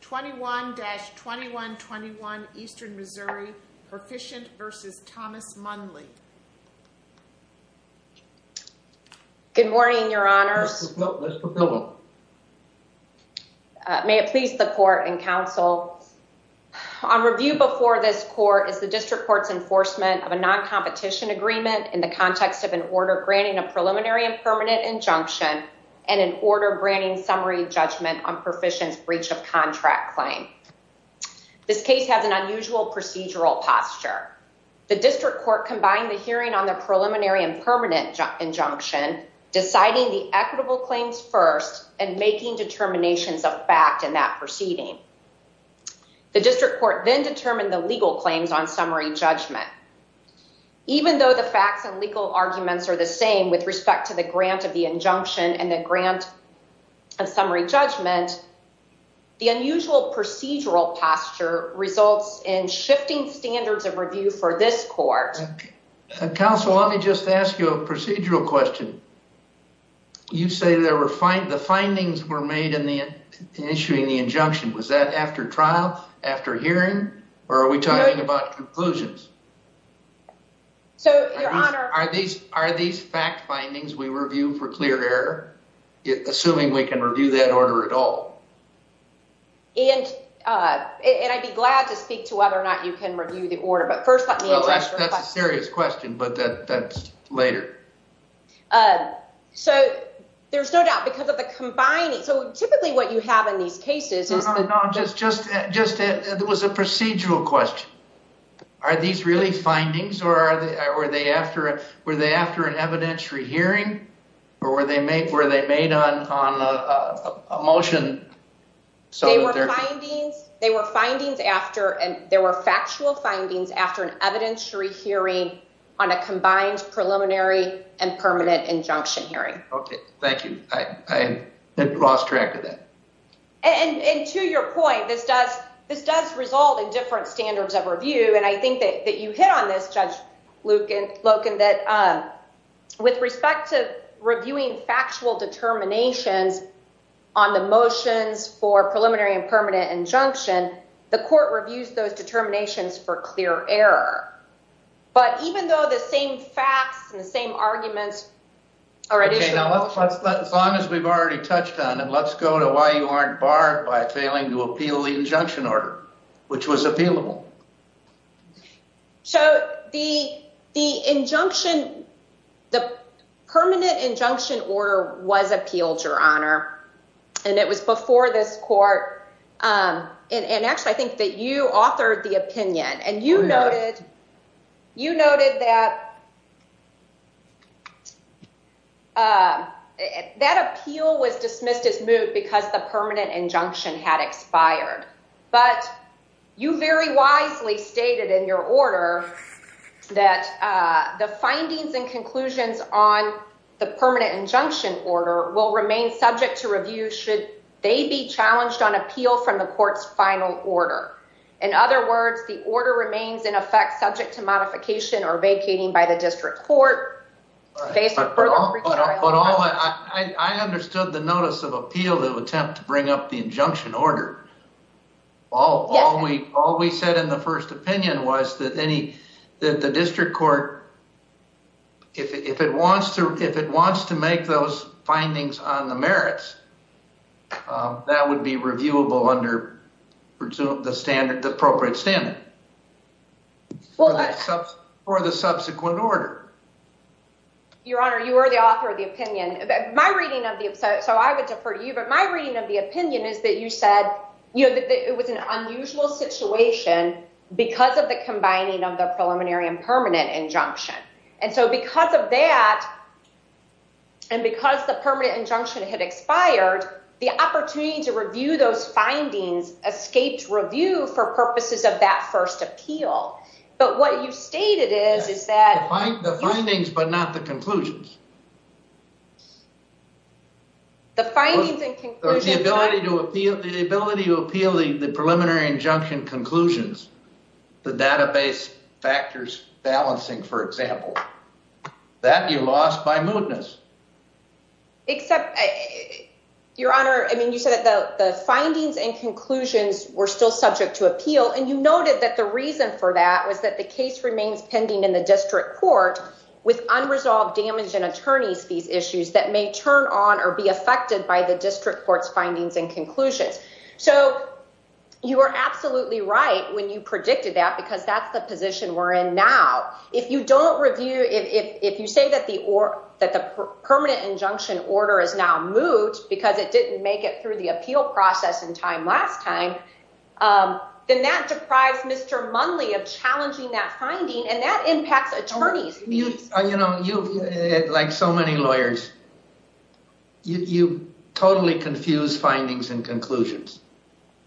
21-2121 Eastern Missouri, Perficient v. Thomas Munley. Good morning, your honors. May it please the court and counsel, on review before this court is the district court's enforcement of a non-competition agreement in the context of an order granting a preliminary and permanent injunction and an order granting summary judgment on Perficient's contract claim. This case has an unusual procedural posture. The district court combined the hearing on the preliminary and permanent injunction, deciding the equitable claims first and making determinations of fact in that proceeding. The district court then determined the legal claims on summary judgment. Even though the facts and legal arguments are the same with respect to the grant of the injunction and the grant of summary judgment, the unusual procedural posture results in shifting standards of review for this court. Counsel, let me just ask you a procedural question. You say the findings were made in issuing the injunction. Was that after trial, after hearing, or are we talking about conclusions? So, your honor. Are these fact findings we review for clear error, assuming we can review that order at all? And I'd be glad to speak to whether or not you can review the order, but first let me address your question. That's a serious question, but that's later. So, there's no doubt, because of the combining. So, typically what you have in these cases is... Just, it was a procedural question. Are these really findings, or were they after an evidentiary hearing, or were they made on a motion? They were findings after, and there were factual findings after an evidentiary hearing on a combined preliminary and permanent injunction hearing. Okay, thank you. I lost track of that. And to your point, this does result in different standards of review, and I think that you hit on this, Judge Loken, that with respect to reviewing factual determinations on the motions for preliminary and permanent injunction, the court reviews those determinations for clear error. But even though the same facts and the same arguments already... Okay, now let's, as long as we've already touched on it, let's go to why you aren't barred by failing to appeal the injunction order, which was appealable. So, the injunction, the permanent injunction order was appealed, Your Honor, and it was before this court. And actually, I think that you authored the opinion, and you noted that that appeal was dismissed as moot because the permanent injunction had expired. But you very wisely stated in your order that the findings and conclusions on the permanent injunction order will remain subject to review should they be challenged on appeal from the court's final order. In other words, the order remains, in effect, subject to modification or vacating by the court. But I understood the notice of appeal to attempt to bring up the injunction order. All we said in the first opinion was that the district court, if it wants to make those findings on the merits, that would be reviewable under the standard, the appropriate standard for the subsequent order. Your Honor, you were the author of the opinion. My reading of the, so I would defer to you, but my reading of the opinion is that you said, you know, that it was an unusual situation because of the combining of the preliminary and permanent injunction. And so, because of that, and because the permanent injunction had expired, the opportunity to review those findings escaped review for purposes of that first appeal. But what you stated is, is that... The findings, but not the conclusions. The findings and conclusions... The ability to appeal the preliminary injunction conclusions, the database factors balancing, for example, that you lost by mootness. Except, Your Honor, I mean, you said that the findings and conclusions were still subject to appeal. And you noted that the reason for that was that the case remains pending in the district court with unresolved damage and attorney's fees issues that may turn on or be affected by the district court's findings and conclusions. So you are absolutely right when you predicted that, because that's the position we're in now. If you don't review, if you say that the permanent injunction order is now moot because it didn't make it through the appeal process in time last time, then that deprives Mr. Munley of challenging that finding and that impacts attorney's fees. You know, like so many lawyers, you totally confuse findings and conclusions,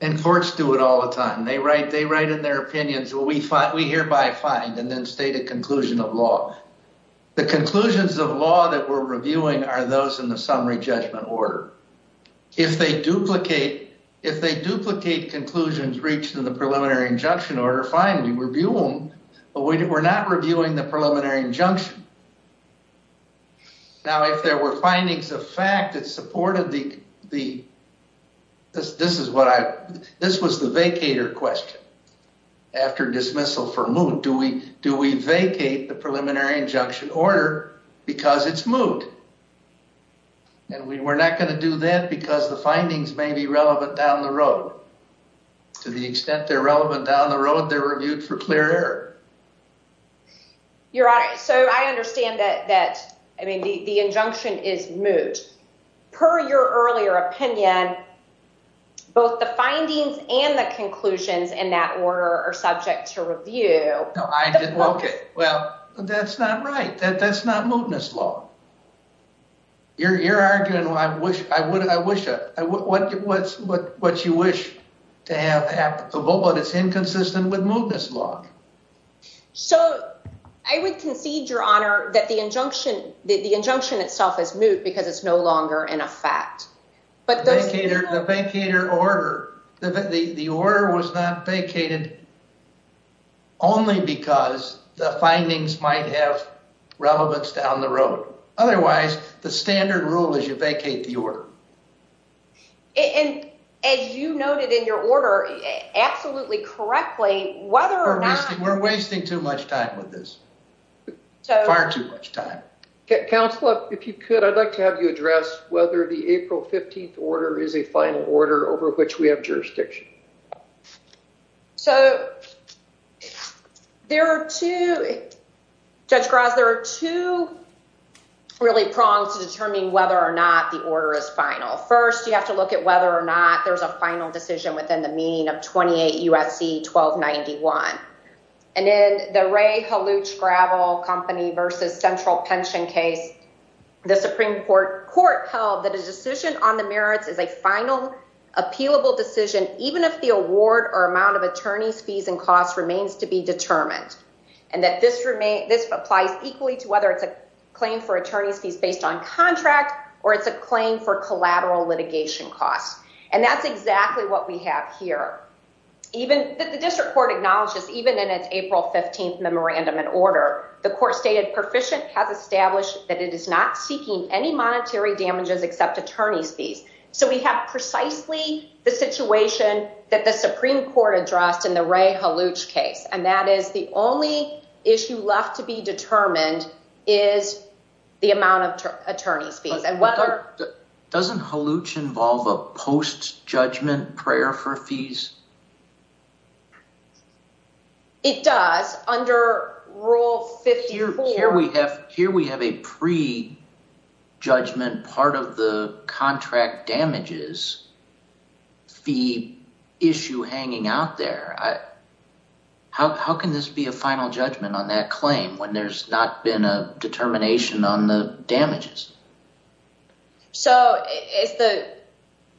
and courts do it all the time. They write in their opinions, well, we hereby find and then state a conclusion of law. The conclusions of law that we're reviewing are those in the summary judgment order. If they duplicate conclusions reached in the preliminary injunction order, fine, we review them, but we're not reviewing the preliminary injunction. Now, if there were findings of fact that supported the, this is what I, this was the vacator question after dismissal for moot, do we vacate the preliminary injunction order because it's moot? And we're not going to do that because the findings may be relevant down the road. To the extent they're relevant down the road, they're reviewed for clear error. Your honor, so I understand that, that, I mean, the, the injunction is moot. Per your earlier opinion, both the findings and the conclusions in that order are subject to review. No, I didn't. Okay. Well, that's not right. That, that's not mootness law. You're, you're arguing, well, I wish, I would, I wish a, what, what's, what, what you wish to have applicable, but it's inconsistent with mootness law. So I would concede, your honor, that the injunction, the injunction itself is moot because it's no longer in effect. But the vacator, the vacator order, the, the, the order was not vacated only because the findings might have relevance down the road. Otherwise, the standard rule is you vacate the order. And as you noted in your order, absolutely correctly, whether or not. We're wasting too much time with this. Far too much time. Counselor, if you could, I'd like to have you address whether the April 15th order is a final order over which we have whether or not the order is final. First, you have to look at whether or not there's a final decision within the meaning of 28 USC 1291. And then the Ray Haluch gravel company versus central pension case, the Supreme court court held that a decision on the merits is a final appealable decision, even if the award or amount of attorney's fees and costs remains to be determined. And that this remain, this applies equally to whether it's a claim for attorney's based on contract, or it's a claim for collateral litigation costs. And that's exactly what we have here. Even that the district court acknowledges, even in its April 15th memorandum and order, the court stated proficient has established that it is not seeking any monetary damages, except attorney's fees. So we have precisely the situation that the Supreme court addressed in the Haluch case. And that is the only issue left to be determined is the amount of attorney's fees. Doesn't Haluch involve a post judgment prayer for fees? It does under rule 54. Here we have a pre judgment part of the contract damages fee issue hanging out there. How can this be a final judgment on that claim when there's not been a determination on the damages? So it's the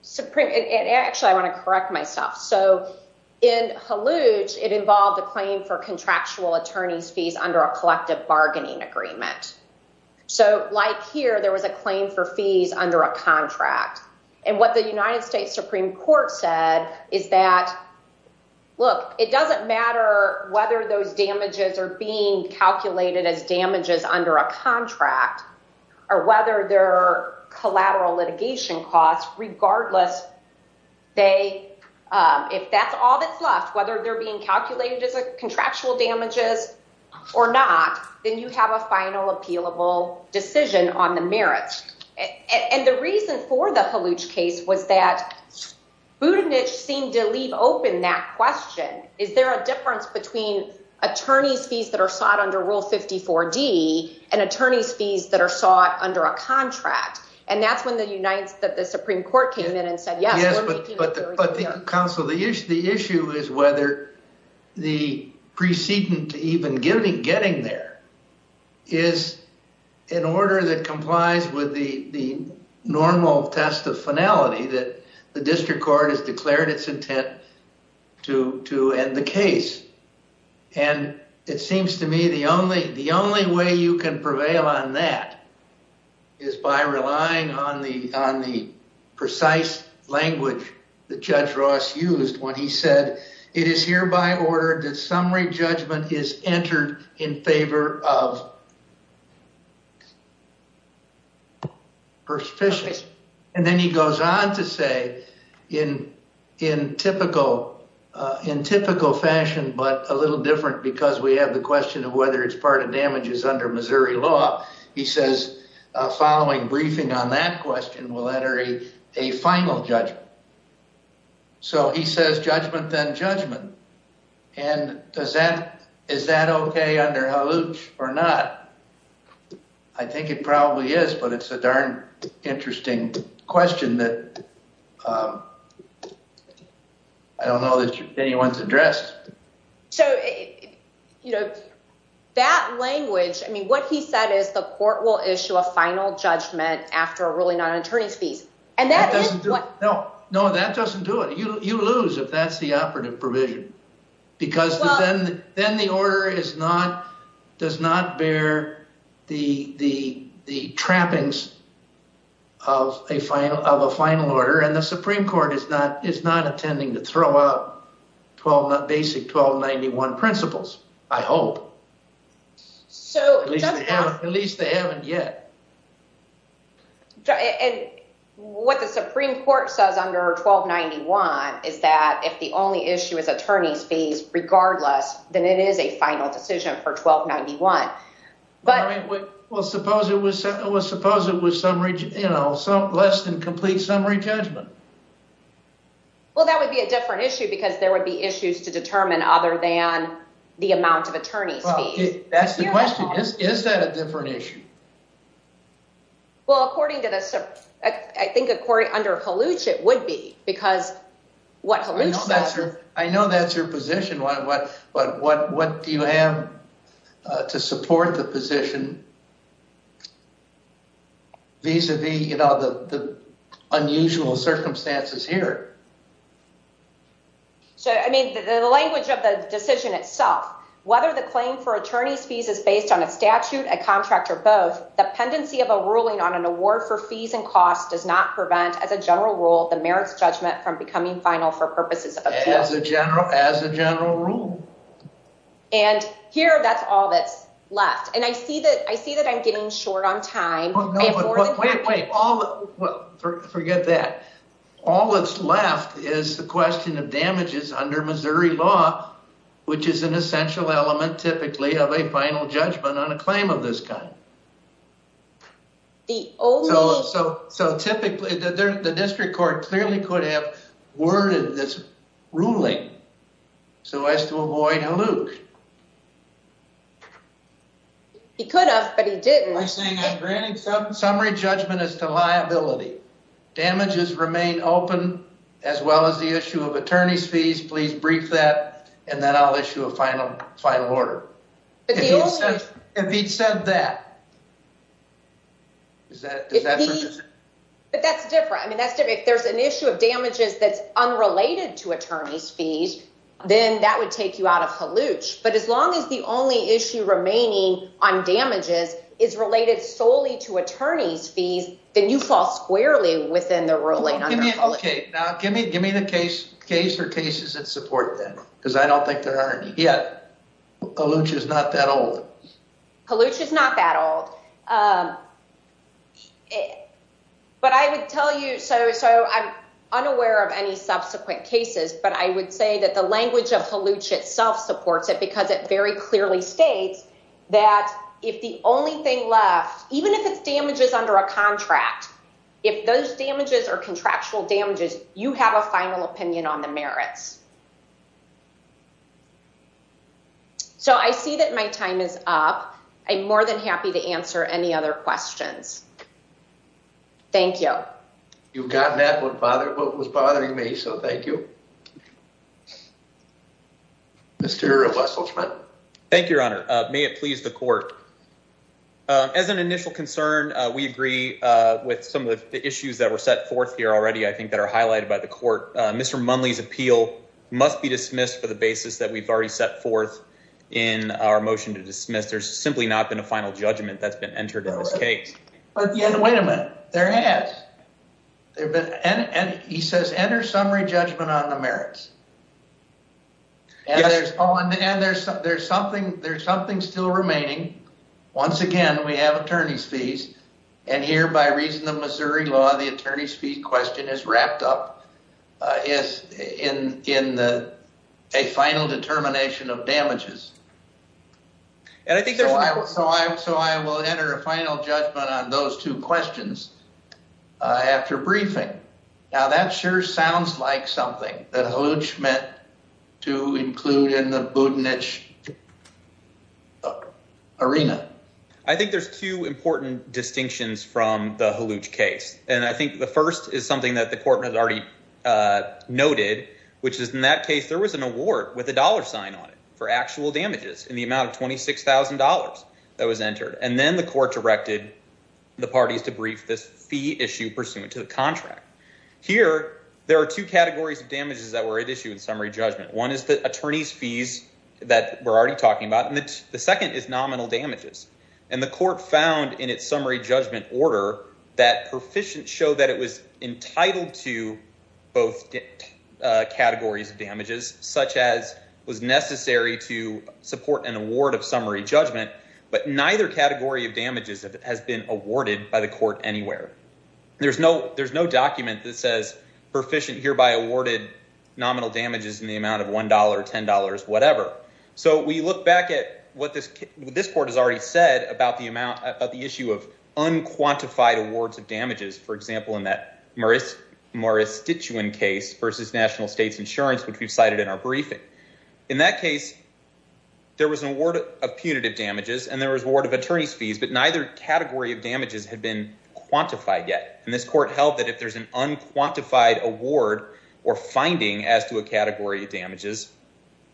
Supreme. Actually, I want to correct myself. So in Haluch, it involved a claim for contractual attorney's fees under a collective bargaining agreement. So like here, there was a claim for fees under a contract. And what the United States Supreme court said is that, look, it doesn't matter whether those damages are being calculated as damages under a contract, or whether they're collateral litigation costs, regardless. If that's all that's left, whether they're being calculated as a contractual damages or not, then you have a final appealable decision on the merits. And the reason for the Haluch case was that Budenich seemed to leave open that question. Is there a difference between attorney's fees that are sought under rule 54 D and attorney's fees that are sought under a contract? And that's when the United States Supreme court came in and said, yes, we're making even getting there is an order that complies with the normal test of finality that the district court has declared its intent to end the case. And it seems to me the only way you can prevail on that is by relying on the precise language that Judge Ross used when he said, it is hereby ordered that summary judgment is entered in favor of perspicience. And then he goes on to say, in typical fashion, but a little different because we have the question of whether it's part of damages under Missouri law, he says, following judgment. And does that, is that okay under Haluch or not? I think it probably is, but it's a darn interesting question that I don't know that anyone's addressed. So, you know, that language, I mean, what he said is the court will issue a final judgment after a ruling on an attorney's No, that doesn't do it. You lose if that's the operative provision, because then the order does not bear the trappings of a final order. And the Supreme court is not attending to throw out basic 1291 principles, I hope. At least they haven't yet. And what the Supreme court says under 1291 is that if the only issue is attorney's fees, regardless, then it is a final decision for 1291. But, well, suppose it was, suppose it was some region, you know, some less than complete summary judgment. Well, that would be a different issue because there would be issues to determine other than the amount of attorney's fees. Well, that's the question. Is that a different issue? Well, according to the, I think under Haluch it would be, because what Haluch says... I know that's your position, but what do you have to support the position vis-a-vis, you know, the unusual circumstances here? So, I mean, the language of the decision itself, whether the claim for attorney's fees is based on a statute, a contract, or both, the pendency of a ruling on an award for fees and costs does not prevent, as a general rule, the merits judgment from becoming final for purposes of... As a general, as a general rule. And here, that's all that's left. And I see that, I see that I'm getting short on time. Wait, wait, forget that. All that's left is the question of damages under Missouri law, which is an essential element, typically, of a final judgment on a claim of this kind. The only... So, typically, the district court clearly could have worded this ruling so as to avoid Haluch. He could have, but he didn't. I'm granting summary judgment as to liability. Damages remain open, as well as the issue of attorney's fees. Please brief that, and then I'll issue a final order. If he'd said that... Is that... But that's different. I mean, that's different. If there's an issue of damages that's unrelated to attorney's fees, then that would take you out of Haluch. But as long as the only issue remaining on damages is related solely to attorney's fees, then you fall squarely within the ruling under Haluch. Okay. Now, give me the case for cases that support that, because I don't think there are any. Yet, Haluch is not that old. Haluch is not that old. But I would tell you... So, I'm unaware of any subsequent cases, but I would say that the language of Haluch itself supports it, because it very clearly states that if the only thing left, even if it's damages under a contract, if those damages are contractual damages, you have a final opinion on the merits. So, I see that my time is up. I'm more than happy to answer any other questions. Thank you. You've gotten at what was bothering me, so thank you. Mr. Wesselschmidt. Thank you, your honor. May it please the court. As an initial concern, we agree with some of the issues that were set forth here already, I think, that are highlighted by the court. Mr. Munley's appeal must be dismissed for the basis that we've already set forth in our motion to dismiss. There's simply not been a final judgment that's been entered in this case. But, yeah, wait a minute. There has. He says, enter summary judgment on the merits. And there's something still remaining. Once again, we have attorney's fees, and here, by reason of Missouri law, the attorney's fee question is wrapped up in a final determination of damages. And I think there's. So, I will enter a final judgment on those two questions after briefing. Now, that sure sounds like something that Halluj meant to include in the Butinich arena. I think there's two important distinctions from the Halluj case, and I think the first is something that the court has already noted, which is in that case, there was an award with a dollar sign on it for actual damages in the amount of $26,000 that was entered. And then the court directed the parties to brief this fee issue pursuant to the contract. Here, there are two categories of damages that were at issue in summary judgment. One is the attorney's fees that we're already talking about. And the second is nominal damages. And the court found in its summary judgment order that proficient show that it was entitled to both categories of damages, such as was necessary to support an award of summary judgment. But neither category of damages has been awarded by the court anywhere. There's no, there's no document that says proficient hereby awarded nominal damages in the amount of $1, $10, whatever. So, we look back at what this court has already said about the amount of the issue of unquantified awards of damages. For example, in that Maristituin case versus National States Insurance, which we've cited in our briefing. In that case, there was an award of punitive damages, and there was award of attorney's fees, but neither category of damages had been quantified yet. And this court held that if there's an unquantified award or finding as to a category of damages,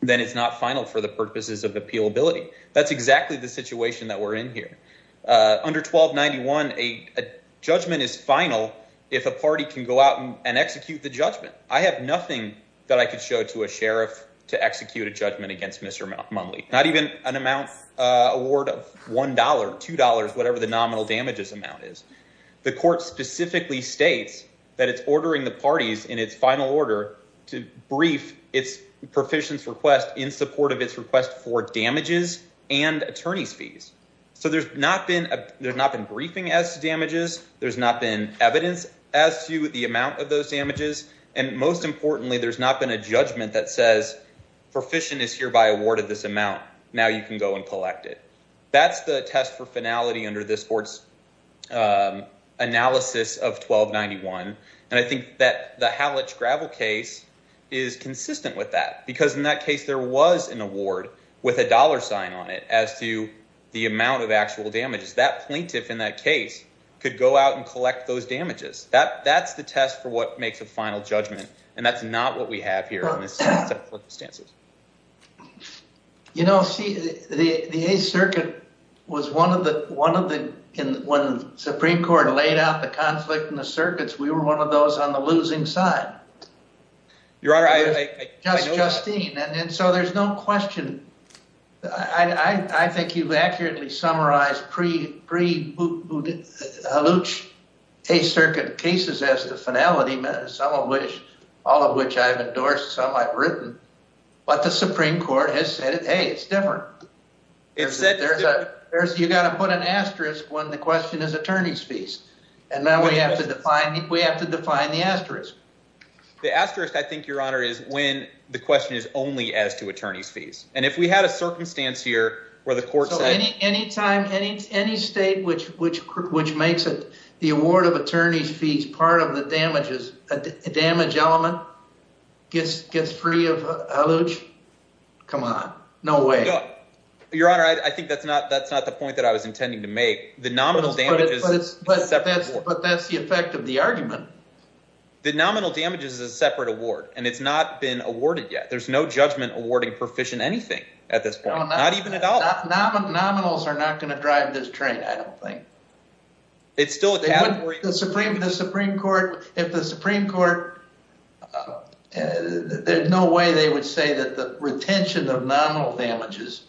then it's not final for the purposes of appealability. That's exactly the situation that we're in here. Under 1291, a judgment is final if a party can go out and execute the judgment. I have nothing that I could show to a sheriff to execute a judgment against Mr. Munley. Not even an amount award of $1, $2, whatever the nominal damages amount is. The court specifically states that it's ordering the parties in its final order to brief its proficient's request in support of its request for damages and attorney's fees. So, there's not been briefing as to damages. There's not been evidence as to the amount of those damages. And most importantly, there's not been a judgment that says proficient is hereby awarded this amount. Now you can go and collect it. That's the test for finality under this court's analysis of 1291. And I think that the Hallich gravel case is consistent with that. Because in that case, there was an award with a dollar sign on it as to the amount of actual damages. That plaintiff in that case could go out and collect those damages. That's the test for what makes a final judgment. And that's not what we have here in this set of circumstances. You know, see, the 8th Circuit was one of the, one of the, when the Supreme Court laid out the conflict in the circuits, we were one of those on the losing side. Your Honor, I know that. Justine, and so there's no question. I think you've accurately summarized pre-Hallich 8th Circuit cases as the finality, some of which, all of which I've endorsed, some I've written. But the Supreme Court has said, hey, it's different. You've got to put an asterisk when the question is attorneys' fees. And now we have to define, we have to define the asterisk. The asterisk, I think, Your Honor, is when the question is only as to attorneys' fees. And if we had a circumstance here where the court said- So any time, any state which makes it, the award of attorneys' fees part of the damages, damage element, gets free of Hallich, come on. No way. Your Honor, I think that's not the point that I was intending to make. The nominal damages is a separate award. But that's the effect of the argument. The nominal damages is a separate award, and it's not been awarded yet. There's no judgment awarding proficient anything at this point. Not even a dollar. Nominals are not going to drive this train, I don't think. It's still a category- The Supreme Court, if the Supreme Court, there's no way they would say that the retention of nominal damages,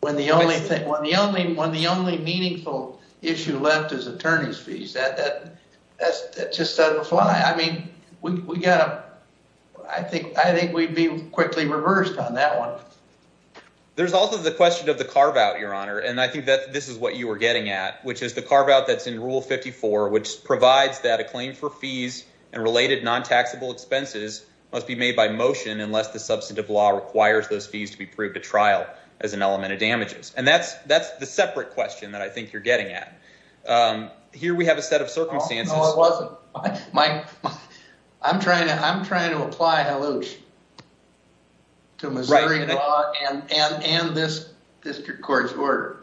when the only meaningful issue left is attorneys' fees, that just doesn't apply. I mean, I think we'd be quickly reversed on that one. There's also the question of the carve-out, Your Honor. And I think that this is what you were getting at, which is the carve-out that's in Rule 54, which provides that a claim for fees and related non-taxable expenses must be made by motion unless the substantive law requires those fees to be proved at trial as an element of damages. And that's the separate question that I think you're getting at. Here we have a set of circumstances- No, it wasn't. I'm trying to apply Hallich to Missouri law and this district court's order.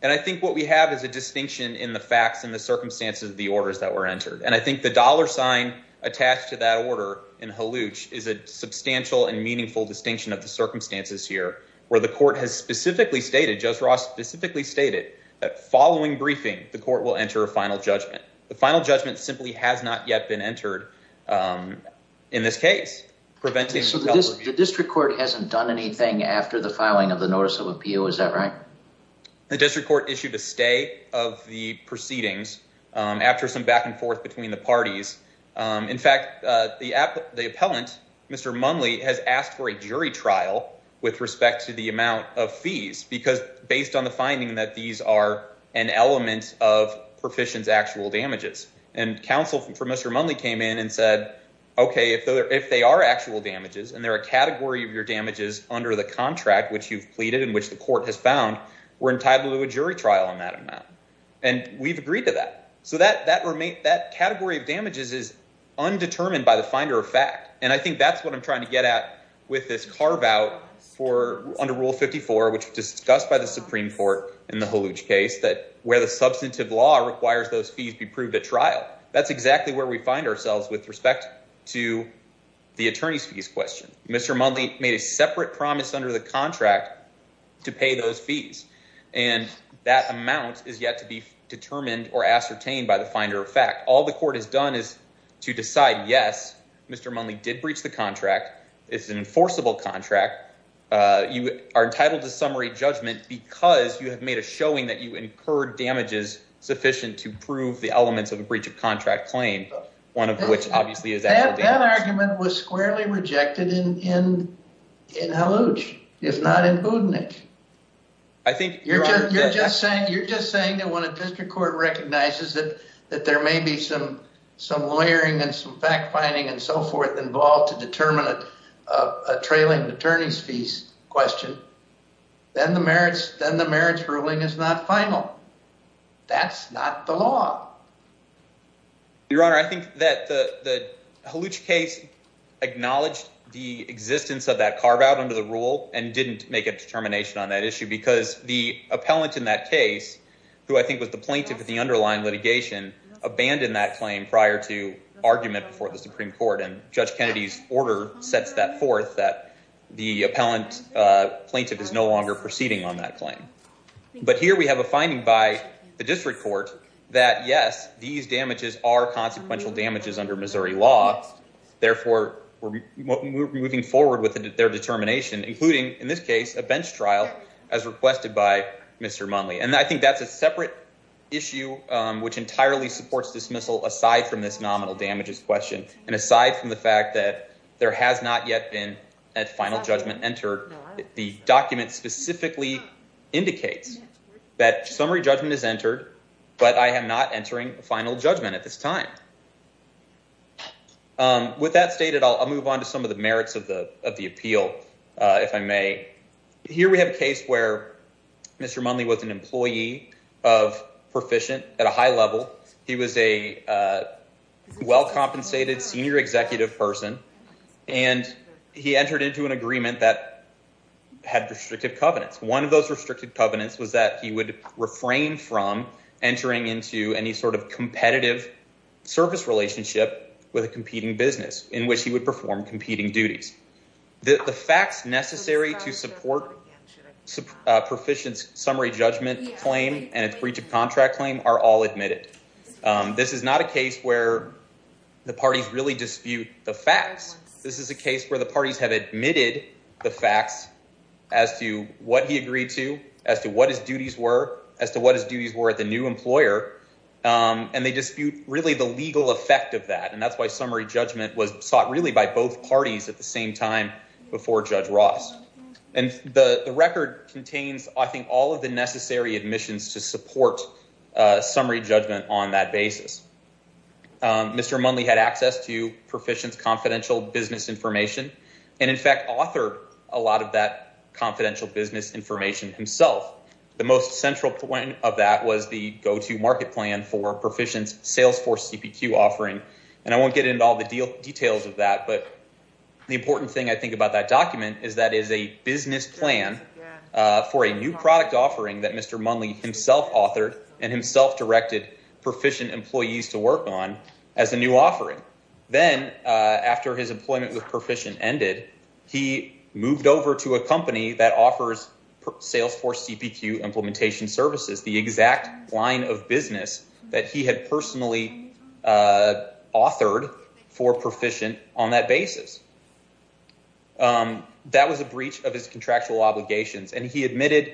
And I think what we have is a distinction in the facts and the circumstances of the orders that were entered. And I think the dollar sign attached to that order in Hallich is a substantial and meaningful distinction of the circumstances here, where the court has specifically stated, Judge Ross specifically stated, that following briefing, the court will enter a final judgment. The final judgment simply has not yet been entered in this case. The district court hasn't done anything after the filing of the notice of appeal, is that right? The district court issued a stay of the proceedings after some back and forth between the parties. In fact, the appellant, Mr. Munley, has asked for a jury trial with respect to the amount of fees, because based on the finding that these are an element of Perficient's actual damages. And counsel for Mr. Munley came in and said, OK, if they are actual damages, and they're a category of your damages under the contract, which you've pleaded and which the court has found, we're entitled to a jury trial on that amount. And we've agreed to that. So that category of damages is undetermined by the finder of fact. And I think that's what I'm trying to get at with this carve out under Rule 54, which was discussed by the Supreme Court in the Hallich case, that where the substantive law requires those fees be proved at trial. That's exactly where we find ourselves with respect to the attorney's fees question. Mr. Munley made a separate promise under the contract to pay those fees, and that amount is yet to be determined or ascertained by the finder of fact. All the court has done is to decide, yes, Mr. Munley did breach the contract. It's an enforceable contract. You are entitled to summary judgment because you have made a showing that you incurred damages sufficient to prove the elements of a breach of contract claim, one of which obviously is actual damages. Your argument was squarely rejected in Hallich, if not in Budnik. You're just saying that when a district court recognizes that there may be some lawyering and some fact-finding and so forth involved to determine a trailing attorney's fees question, then the merits ruling is not final. That's not the law. Your Honor, I think that the Hallich case acknowledged the existence of that carve-out under the rule and didn't make a determination on that issue because the appellant in that case, who I think was the plaintiff of the underlying litigation, abandoned that claim prior to argument before the Supreme Court. And Judge Kennedy's order sets that forth that the appellant plaintiff is no longer proceeding on that claim. But here we have a finding by the district court that, yes, these damages are consequential damages under Missouri law. Therefore, we're moving forward with their determination, including in this case, a bench trial as requested by Mr. Munley. And I think that's a separate issue which entirely supports dismissal aside from this nominal damages question and aside from the fact that there has not yet been a final judgment entered. The document specifically indicates that summary judgment is entered, but I am not entering a final judgment at this time. With that stated, I'll move on to some of the merits of the appeal, if I may. Here we have a case where Mr. Munley was an employee of Perficient at a high level. He was a well-compensated senior executive person, and he entered into an agreement that had restrictive covenants. One of those restricted covenants was that he would refrain from entering into any sort of competitive service relationship with a competing business in which he would perform competing duties. The facts necessary to support Perficient's summary judgment claim and its breach of contract claim are all admitted. This is not a case where the parties really dispute the facts. This is a case where the parties have admitted the facts as to what he agreed to, as to what his duties were, as to what his duties were at the new employer, and they dispute really the legal effect of that. And that's why summary judgment was sought really by both parties at the same time before Judge Ross. And the record contains, I think, all of the necessary admissions to support summary judgment on that basis. Mr. Munley had access to Perficient's confidential business information and, in fact, authored a lot of that confidential business information himself. The most central point of that was the go-to market plan for Perficient's Salesforce CPQ offering. And I won't get into all the details of that, but the important thing, I think, about that document is that it is a business plan for a new product offering that Mr. Munley himself authored and himself directed Perficient employees to work on as a new offering. Then, after his employment with Perficient ended, he moved over to a company that offers Salesforce CPQ implementation services, the exact line of business that he had personally authored for Perficient on that basis. That was a breach of his contractual obligations, and he admitted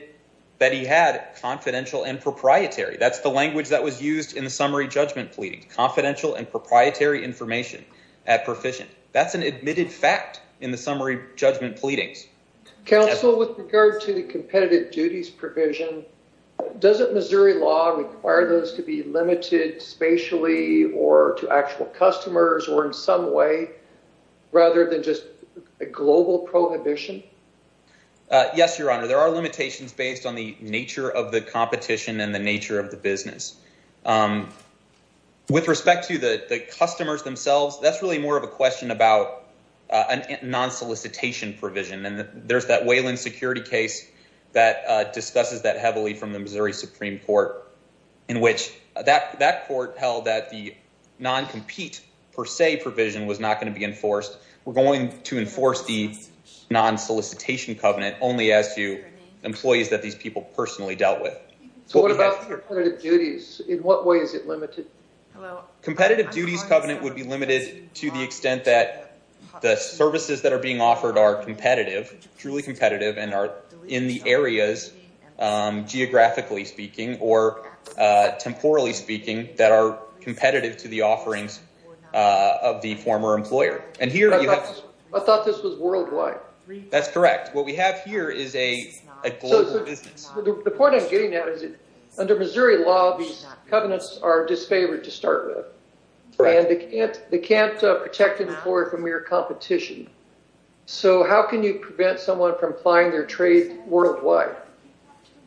that he had confidential and proprietary. That's the language that was used in the summary judgment pleading. Confidential and proprietary information at Perficient. That's an admitted fact in the summary judgment pleadings. Counsel, with regard to the competitive duties provision, doesn't Missouri law require those to be limited spatially or to actual customers or in some way rather than just a global prohibition? Yes, Your Honor. There are limitations based on the nature of the competition and the nature of the business. With respect to the customers themselves, that's really more of a question about a non-solicitation provision. There's that Wayland security case that discusses that heavily from the was not going to be enforced. We're going to enforce the non-solicitation covenant only as to employees that these people personally dealt with. What about competitive duties? In what way is it limited? Competitive duties covenant would be limited to the extent that the services that are being offered are competitive, truly competitive, and are in the areas, geographically speaking or temporally speaking, that are competitive to the offerings of the former employer. I thought this was worldwide. That's correct. What we have here is a global business. The point I'm getting at is that under Missouri law, these covenants are disfavored to start with and they can't protect an employer from mere competition. So how can you prevent someone from applying their trade worldwide?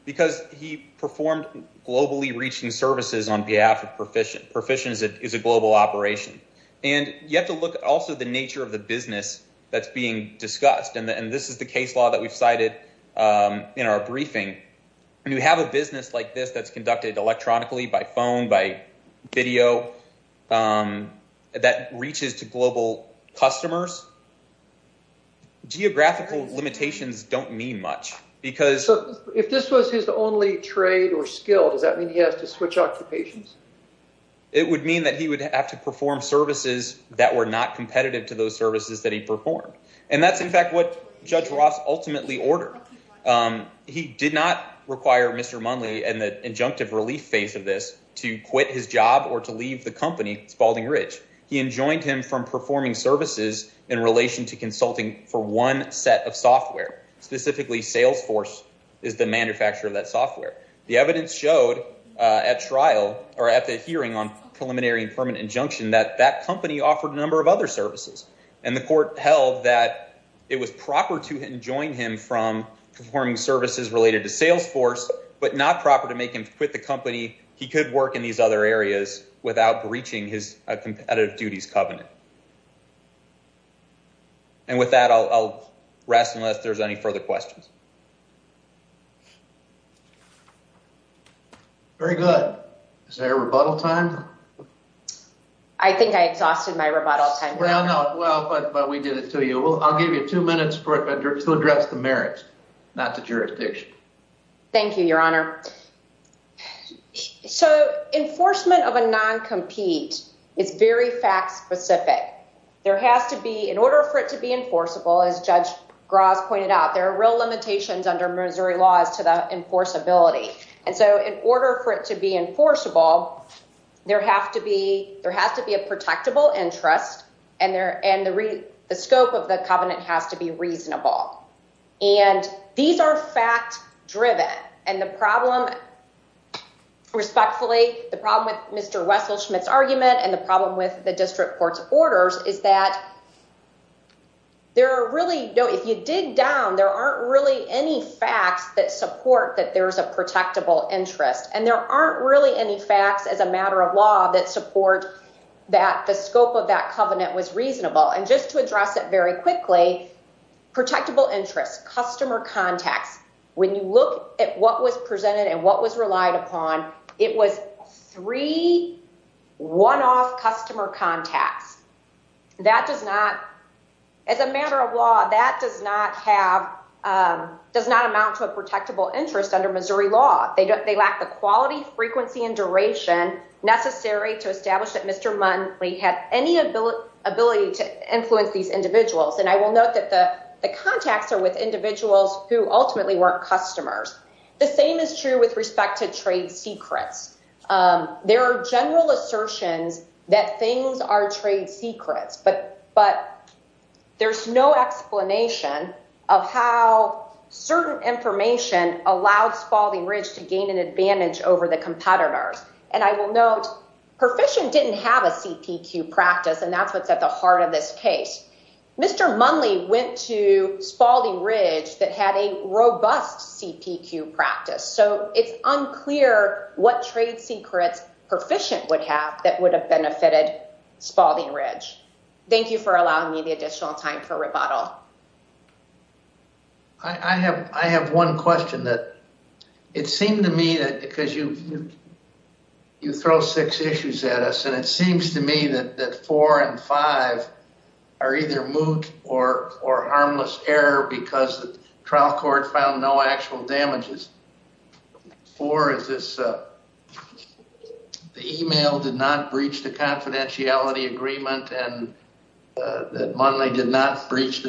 Because he performed globally reaching services on behalf of Perficient. Perficient is a global operation. You have to look also at the nature of the business that's being discussed. This is the case law that we've cited in our briefing. You have a business like this that's conducted electronically by phone, by video, that reaches to global customers. Geographical limitations don't mean much. So if this was his only trade or skill, does that mean he has to switch occupations? It would mean that he would have to perform services that were not competitive to those services that he performed. And that's in fact what Judge Ross ultimately ordered. He did not require Mr. Munley and the injunctive relief phase of this to quit his job or to leave the company, Spalding Ridge. He enjoined him from performing services in relation to consulting for one set of software. Specifically, Salesforce is the manufacturer of that software. The evidence showed at trial or at the hearing on preliminary and permanent injunction that that company offered a number of other services and the court held that it was proper to enjoin him from performing services related to Salesforce, but not proper to make him quit the company. He could work in these other areas without breaching his competitive duties covenant. And with that, I'll rest unless there's any further questions. Very good. Is there a rebuttal time? I think I exhausted my rebuttal time. Well, but we did it to you. I'll give you two minutes to address the merits, not the jurisdiction. Thank you, Your Honor. So enforcement of a non-compete is very fact specific. There has to be, in order for it to be enforceable, as Judge Gross pointed out, there are real limitations under Missouri laws to the enforceability. And so in order for it to be enforceable, there has to be a protectable interest and the scope of the covenant has to be reasonable. And these are fact driven. And the problem, respectfully, the problem with Mr. Wesselschmidt's argument and the problem with the district court's orders is that there are really, if you dig down, there aren't really any facts that support that there's a protectable interest. And there aren't really any facts as a that covenant was reasonable. And just to address it very quickly, protectable interest, customer contacts, when you look at what was presented and what was relied upon, it was three one-off customer contacts. That does not, as a matter of law, that does not have, does not amount to a protectable interest under Missouri law. They lack the quality, frequency and duration necessary to establish that Mr. Munley had any ability to influence these individuals. And I will note that the contacts are with individuals who ultimately weren't customers. The same is true with respect to trade secrets. There are general assertions that things are trade secrets, but there's no explanation of how certain information allowed Spalding Ridge to gain an advantage over the competitors. And I will note, Perficient didn't have a CPQ practice, and that's what's at the heart of this case. Mr. Munley went to Spalding Ridge that had a robust CPQ practice. So it's unclear what trade secrets Perficient would have that would have benefited Spalding Ridge. Thank you for allowing me the additional time for rebuttal. I have one question that, it seemed to me that, because you throw six issues at us, and it seems to me that four and five are either moot or harmless error because the trial court found no actual damages. Four is this, the email did not breach the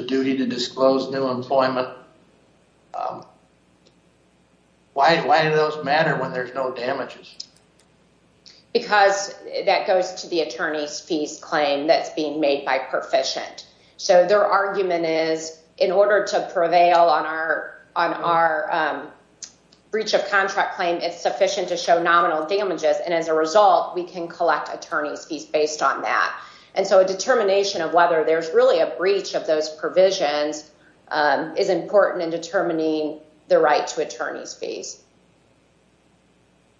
duty to disclose new employment. Why do those matter when there's no damages? Because that goes to the attorney's fees claim that's being made by Perficient. So their argument is, in order to prevail on our breach of contract claim, it's sufficient to show nominal damages. And as a result, we can collect attorney's fees based on that. And so a determination of whether there's really a breach of those provisions is important in determining the right to attorney's fees.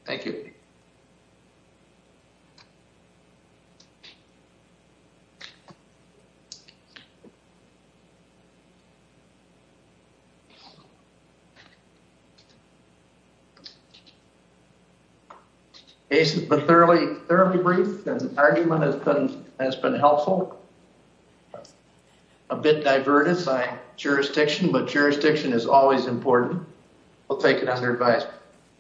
Thank you. Thank you. It's been fairly brief. The argument has been helpful. A bit diverted by jurisdiction, but jurisdiction is always important. We'll take it under advice.